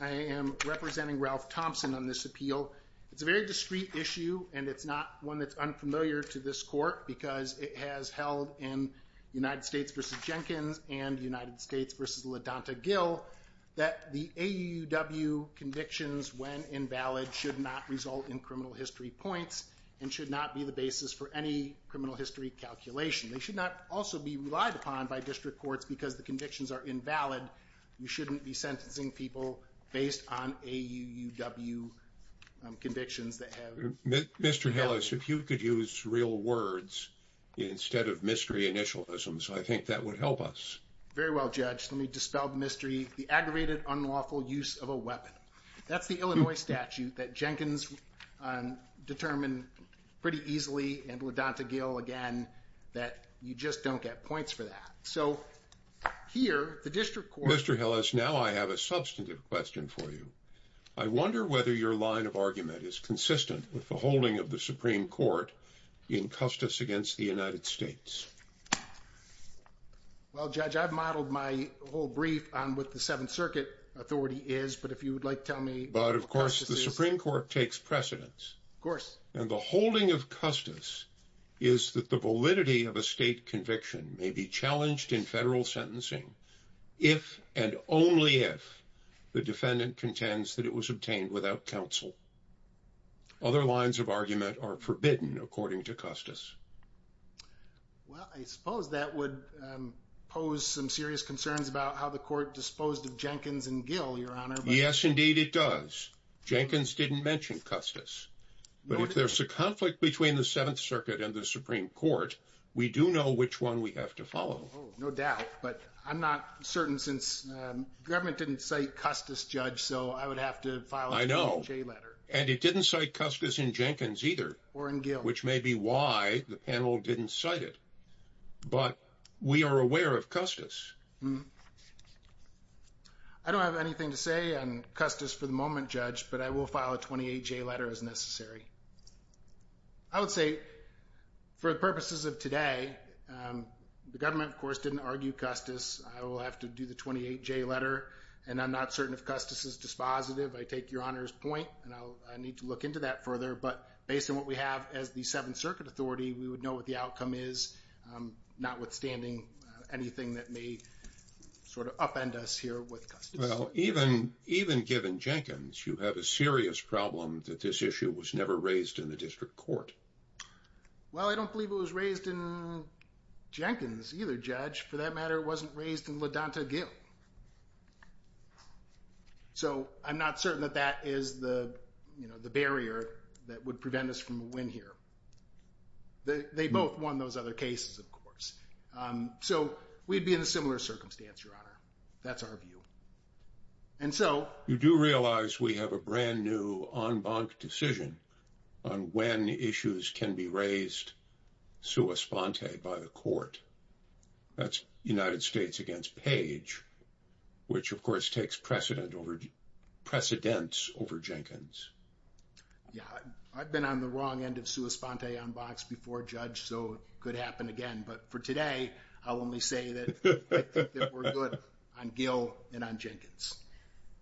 I am representing Ralph Thompson on this appeal. So it's a very discreet issue and it's not one that's unfamiliar to this court because it has held in United States v. Jenkins and United States v. LaDonta Gill that the AUUW convictions when invalid should not result in criminal history points and should not be the basis for any criminal history calculation. They should not also be relied upon by district courts because the convictions are invalid. You shouldn't be sentencing people based on AUUW convictions that have been held. Mr. Hillis, if you could use real words instead of mystery initialisms, I think that would help us. Very well, Judge. Let me dispel the mystery. The aggravated unlawful use of a weapon. That's the Illinois statute that Jenkins determined pretty easily and LaDonta Gill again that you just don't get points for that. So here, the district court Mr. Hillis, now I have a substantive question for you. I wonder whether your line of argument is consistent with the holding of the Supreme Court in Custis against the United States. Well, Judge, I've modeled my whole brief on what the Seventh Circuit authority is. But if you would like to tell me. But of course, the Supreme Court takes precedence, of course, and the holding of Custis is that the validity of a state conviction may be challenged in federal sentencing if and only if the defendant contends that it was obtained without counsel. Other lines of argument are forbidden, according to Custis. Well, I suppose that would pose some serious concerns about how the court disposed of Jenkins and Gill, Your Honor. Yes, indeed, it does. Jenkins didn't mention Custis, but if there's a conflict between the Seventh Circuit and the Supreme Court, we do know which one we have to follow. Oh, no doubt. But I'm not certain since the government didn't cite Custis, Judge, so I would have to file a 28-J letter. And it didn't cite Custis in Jenkins either. Or in Gill. Which may be why the panel didn't cite it. But we are aware of Custis. I don't have anything to say on Custis for the moment, Judge, but I will file a 28-J letter as necessary. I would say, for the purposes of today, the government, of course, didn't argue Custis. I will have to do the 28-J letter. And I'm not certain if Custis is dispositive. I take Your Honor's point, and I need to look into that further. But based on what we have as the Seventh Circuit Authority, we would know what the outcome is, notwithstanding anything that may sort of upend us here with Custis. Well, even given Jenkins, you have a serious problem that this issue was never raised in the district court. Well, I don't believe it was raised in Jenkins either, Judge. For that matter, it wasn't raised in LaDonta Gill. So I'm not certain that that is the barrier that would prevent us from a win here. They both won those other cases, of course. So we'd be in a similar circumstance, Your Honor. That's our view. And so... You do realize we have a brand-new en banc decision on when issues can be raised sua sponte by the court. That's United States against Page, which, of course, takes precedence over Jenkins. Yeah. I've been on the wrong end of sua sponte en bancs before, Judge, so it could happen again. But for today, I'll only say that I think that we're good on Gill and on Jenkins.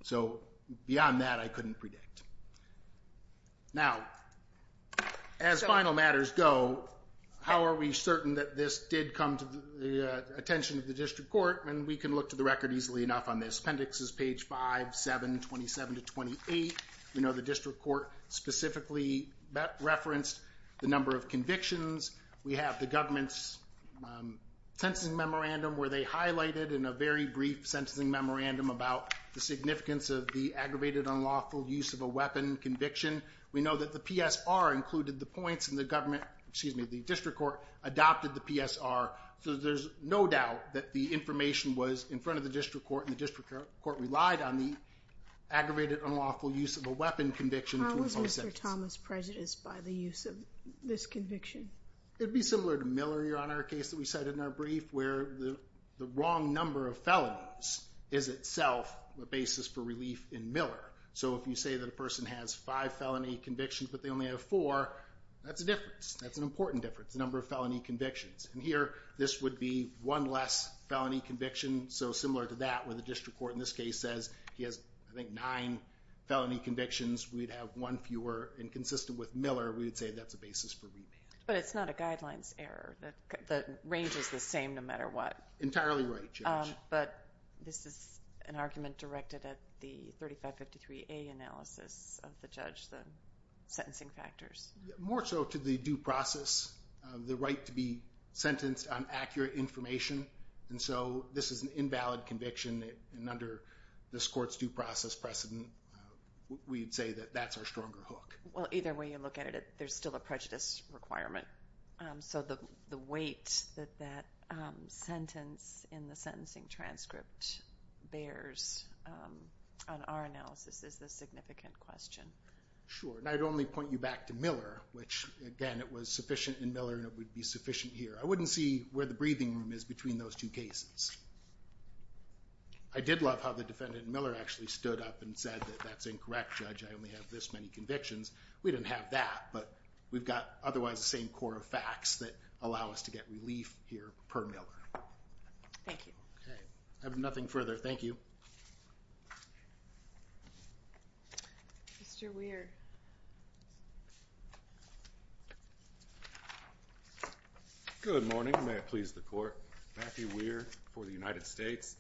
So beyond that, I couldn't predict. Now, as final matters go, how are we certain that this did come to the attention of the district court? And we can look to the record easily enough on this. Appendix is Page 5, 7, 27 to 28. We know the district court specifically referenced the number of convictions. We have the government's sentencing memorandum, where they highlighted in a very brief sentencing memorandum about the significance of the aggravated unlawful use of a weapon conviction. We know that the PSR included the points, and the government, excuse me, the district court adopted the PSR. So there's no doubt that the information was in front of the district court, and the district court relied on the aggravated unlawful use of a weapon conviction to impose sentences. Mr. Thomas, prejudice by the use of this conviction. It'd be similar to Miller here on our case that we cited in our brief, where the wrong number of felonies is itself a basis for relief in Miller. So if you say that a person has five felony convictions, but they only have four, that's a difference. That's an important difference, the number of felony convictions. And here, this would be one less felony conviction. So similar to that, where the district court in this case says he has, I think, nine felony convictions, we'd have one fewer. And consistent with Miller, we would say that's a basis for remand. But it's not a guidelines error, that the range is the same no matter what. Entirely right, Judge. But this is an argument directed at the 3553A analysis of the judge, the sentencing factors. More so to the due process, the right to be sentenced on accurate information. And so this is an invalid conviction, and under this court's due process precedent, we'd say that that's our stronger hook. Well, either way you look at it, there's still a prejudice requirement. So the weight that that sentence in the sentencing transcript bears on our analysis is the significant question. Sure. And I'd only point you back to Miller, which, again, it was sufficient in Miller, and it would be sufficient here. I wouldn't see where the breathing room is between those two cases. I did love how the defendant in Miller actually stood up and said that that's incorrect, Judge, I only have this many convictions. We didn't have that, but we've got otherwise the same core of facts that allow us to get relief here per Miller. Thank you. Okay. I have nothing further. Thank you. Mr. Weir. Good. Good morning. May it please the court. Matthew Weir for the United States.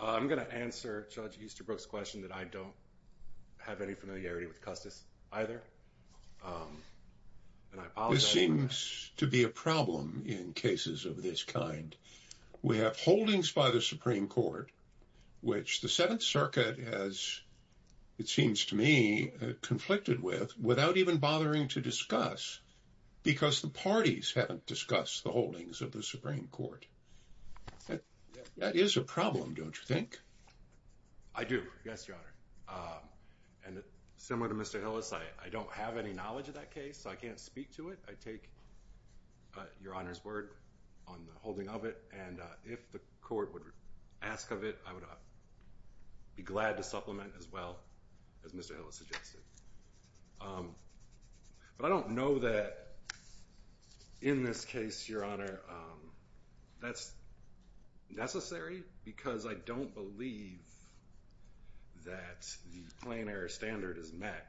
I'm going to answer Judge Easterbrook's question that I don't have any familiarity with Custis either, and I apologize. This seems to be a problem in cases of this kind. We have holdings by the Supreme Court, which the Seventh Circuit has, it seems to me, conflicted with without even bothering to discuss because the parties haven't discussed the holdings of the Supreme Court. That is a problem, don't you think? I do. Yes, Your Honor. And similar to Mr. Hillis, I don't have any knowledge of that case, so I can't speak to it. I take Your Honor's word on the holding of it, and if the court would ask of it, I would be glad to supplement as well as Mr. Hillis suggested. But I don't know that in this case, Your Honor, that's necessary because I don't believe that the plain error standard is met,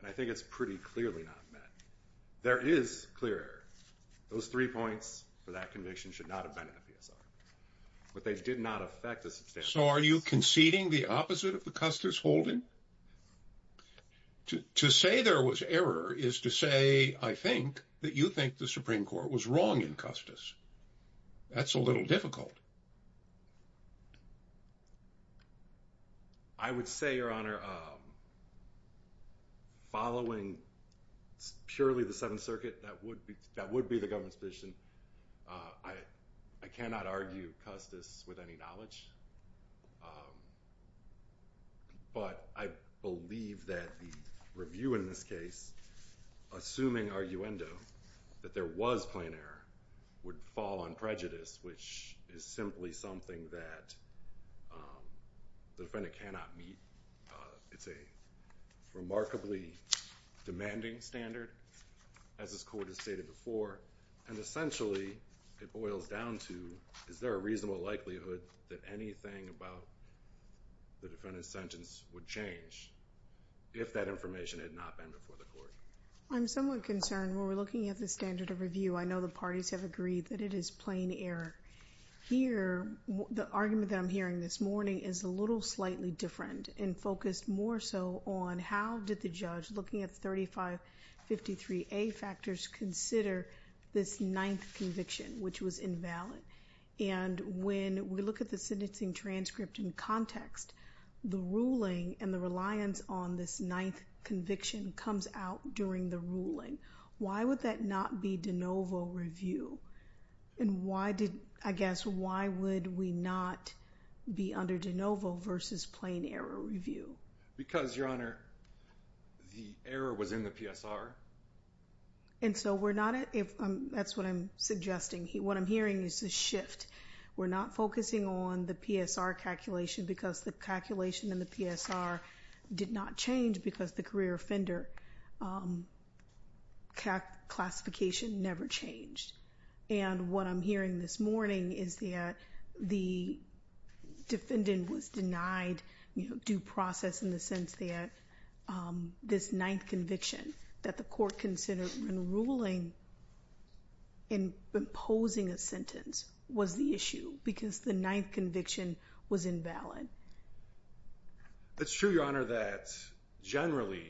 and I think it's pretty clearly not met. There is clear error. Those three points for that conviction should not have been in the PSR, but they did not affect the standard. So are you conceding the opposite of the Custis holding? To say there was error is to say, I think, that you think the Supreme Court was wrong in Custis. That's a little difficult. I would say, Your Honor, following purely the Seventh Circuit, that would be the government's position. I cannot argue Custis with any knowledge, but I believe that the review in this case, assuming arguendo, that there was plain error, would fall on prejudice, which is simply something that the defendant cannot meet. It's a remarkably demanding standard, as this Court has stated before, and essentially, it boils down to, is there a reasonable likelihood that anything about the defendant's sentence would change if that information had not been before the Court? I'm somewhat concerned. When we're looking at the standard of review, I know the parties have agreed that it is plain error. Here, the argument that I'm hearing this morning is a little slightly different and focused more so on how did the judge, looking at 3553A factors, consider this ninth conviction, which was invalid? And when we look at the sentencing transcript in context, the ruling and the reliance on this ninth conviction comes out during the ruling. Why would that not be de novo review? And why did, I guess, why would we not be under de novo versus plain error review? Because Your Honor, the error was in the PSR. And so we're not at, that's what I'm suggesting, what I'm hearing is a shift. We're not focusing on the PSR calculation because the calculation in the PSR did not change because the career offender classification never changed. And what I'm hearing this morning is that the defendant was denied due process in the sense that this ninth conviction that the Court considered in ruling in imposing a sentence was the issue because the ninth conviction was invalid. It's true, Your Honor, that generally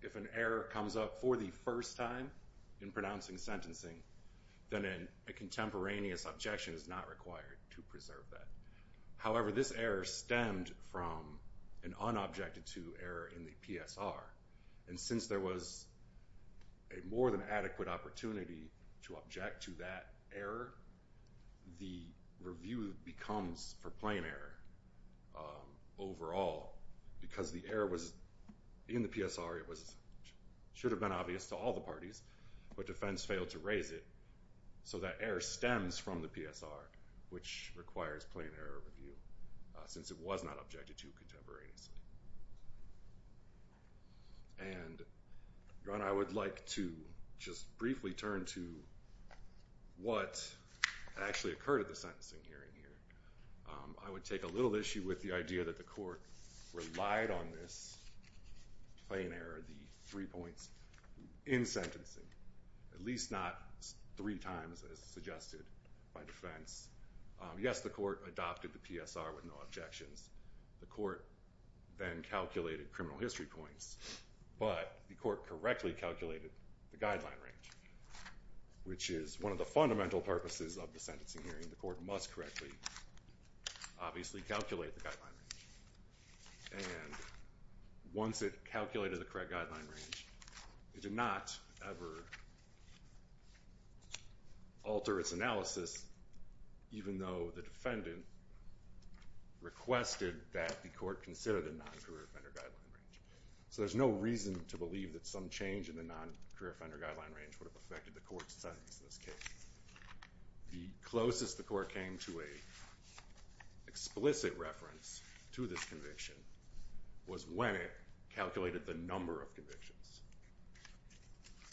if an error comes up for the first time in pronouncing sentencing, then a contemporaneous objection is not required to preserve that. However, this error stemmed from an unobjected to error in the PSR. And since there was a more than adequate opportunity to object to that error, the review becomes for plain error overall because the error was in the PSR, it should have been obvious to all the parties, but defense failed to raise it. So that error stems from the PSR, which requires plain error review since it was not objected to contemporaneously. And Your Honor, I would like to just briefly turn to what actually occurred at the sentencing hearing here. I would take a little issue with the idea that the Court relied on this plain error, the three points, in sentencing, at least not three times as suggested by defense. Yes, the Court adopted the PSR with no objections. The Court then calculated criminal history points, but the Court correctly calculated the guideline range, which is one of the fundamental purposes of the sentencing hearing. The Court must correctly, obviously, calculate the guideline range. And once it calculated the correct guideline range, it did not ever alter its analysis even though the defendant requested that the Court consider the non-career offender guideline range. So there's no reason to believe that some change in the non-career offender guideline range would have affected the Court's sentence in this case. The closest the Court came to an explicit reference to this conviction was when it calculated the number of convictions.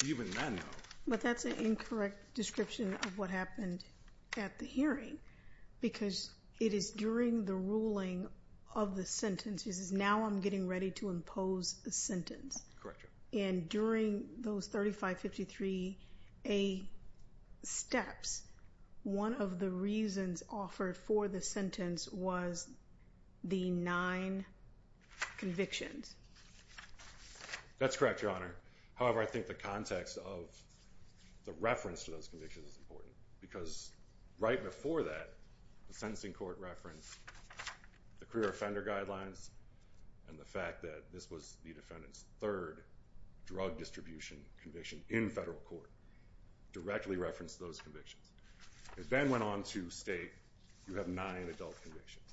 Even then, though. But that's an incorrect description of what happened at the hearing, because it is during the ruling of the sentence, this is now I'm getting ready to impose a sentence. Correct, Your Honor. And during those 3553A steps, one of the reasons offered for the sentence was the nine convictions. That's correct, Your Honor. However, I think the context of the reference to those convictions is important, because right before that, the sentencing Court referenced the career offender guidelines and the fact that this was the defendant's third drug distribution conviction in federal court, directly referenced those convictions. It then went on to state, you have nine adult convictions.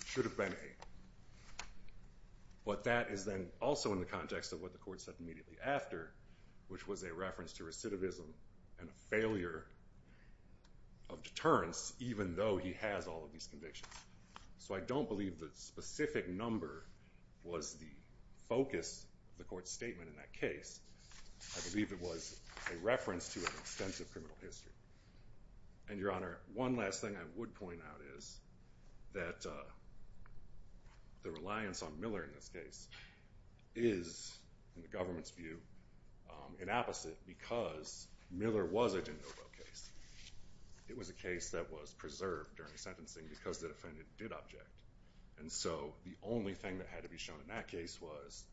It should have been eight. But that is then also in the context of what the Court said immediately after, which was a reference to recidivism and a failure of deterrence, even though he has all of these convictions. So I don't believe the specific number was the focus of the Court's statement in that case. I believe it was a reference to an extensive criminal history. And Your Honor, one last thing I would point out is that the reliance on Miller in this case is, in the government's view, an opposite, because Miller was a de novo case. It was a case that was preserved during sentencing because the defendant did object. And so the only thing that had to be shown in that case was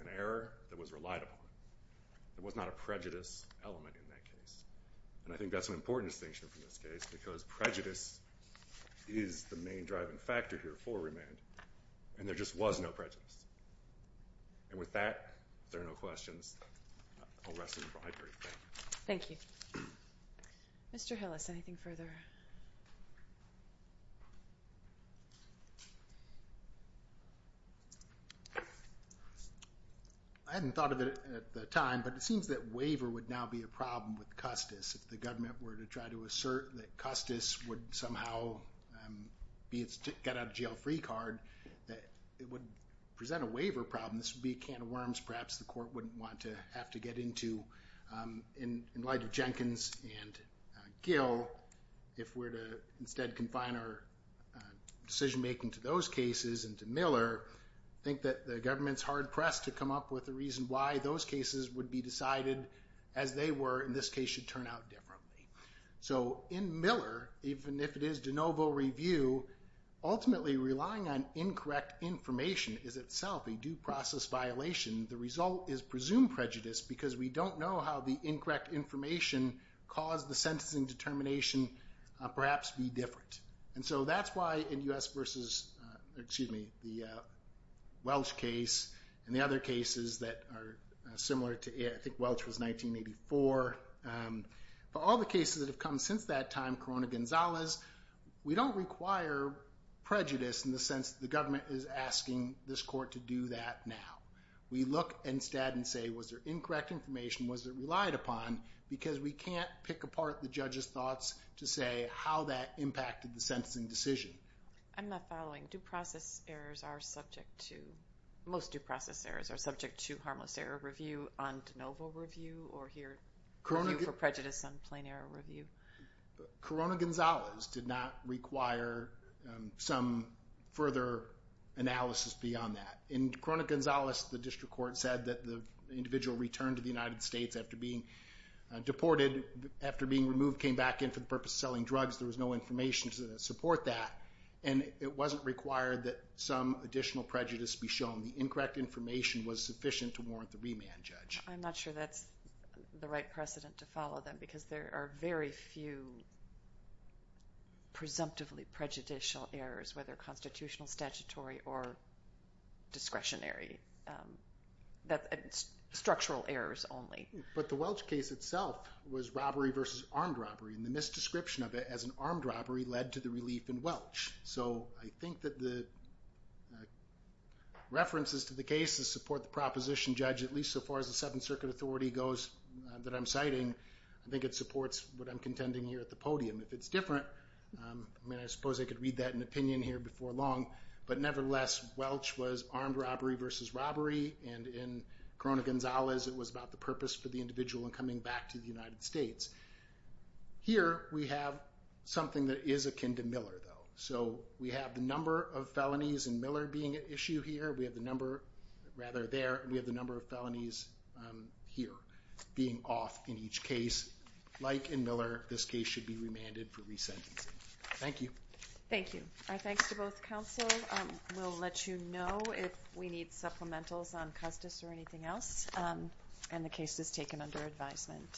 an error that was relied upon. There was not a prejudice element in that case. And I think that's an important distinction from this case, because prejudice is the main driving factor here for remand, and there just was no prejudice. And with that, if there are no questions, I'll rest it in the library. Thank you. Thank you. Mr. Hillis, anything further? I hadn't thought of it at the time, but it seems that waiver would now be a problem with If the government were to try to assert that Custis would somehow get out a jail-free card, it would present a waiver problem. This would be a can of worms, perhaps the Court wouldn't want to have to get into in In light of Jenkins and Gill, if we're to instead confine our decision-making to those cases and to Miller, I think that the government's hard-pressed to come up with a reason why those cases would be decided as they were, and this case should turn out differently. So in Miller, even if it is de novo review, ultimately relying on incorrect information is itself a due process violation. The result is presumed prejudice because we don't know how the incorrect information caused the sentencing determination perhaps be different. And so that's why in U.S. versus, excuse me, the Welch case and the other cases that are similar to, I think Welch was 1984, for all the cases that have come since that time, Corona-Gonzalez, we don't require prejudice in the sense that the government is asking this Court to do that now. We look instead and say, was there incorrect information? Was it relied upon? Because we can't pick apart the judge's thoughts to say how that impacted the sentencing decision. I'm not following. Due process errors are subject to, most due process errors are subject to harmless error review on de novo review or here, review for prejudice on plain error review. Corona-Gonzalez did not require some further analysis beyond that. In Corona-Gonzalez, the District Court said that the individual returned to the United States after being deported, after being removed, came back in for the purpose of selling drugs. There was no information to support that. And it wasn't required that some additional prejudice be shown. The incorrect information was sufficient to warrant the remand, Judge. I'm not sure that's the right precedent to follow then because there are very few presumptively prejudicial errors, whether constitutional, statutory, or discretionary, that's structural errors only. But the Welch case itself was robbery versus armed robbery, and the misdescription of it as an armed robbery led to the relief in Welch. So I think that the references to the cases support the proposition, Judge, at least so far as the Seventh Circuit authority goes that I'm citing, I think it supports what I'm contending here at the podium. If it's different, I mean, I suppose I could read that in opinion here before long, but nevertheless, Welch was armed robbery versus robbery, and in Corona-Gonzalez, it was about the purpose for the individual in coming back to the United States. Here we have something that is akin to Miller, though. So we have the number of felonies in Miller being an issue here. We have the number, rather, there, and we have the number of felonies here being off in each case. Like in Miller, this case should be remanded for resentencing. Thank you. Thank you. Our thanks to both counsel. We'll let you know if we need supplementals on Custis or anything else, and the case is taken under advisement.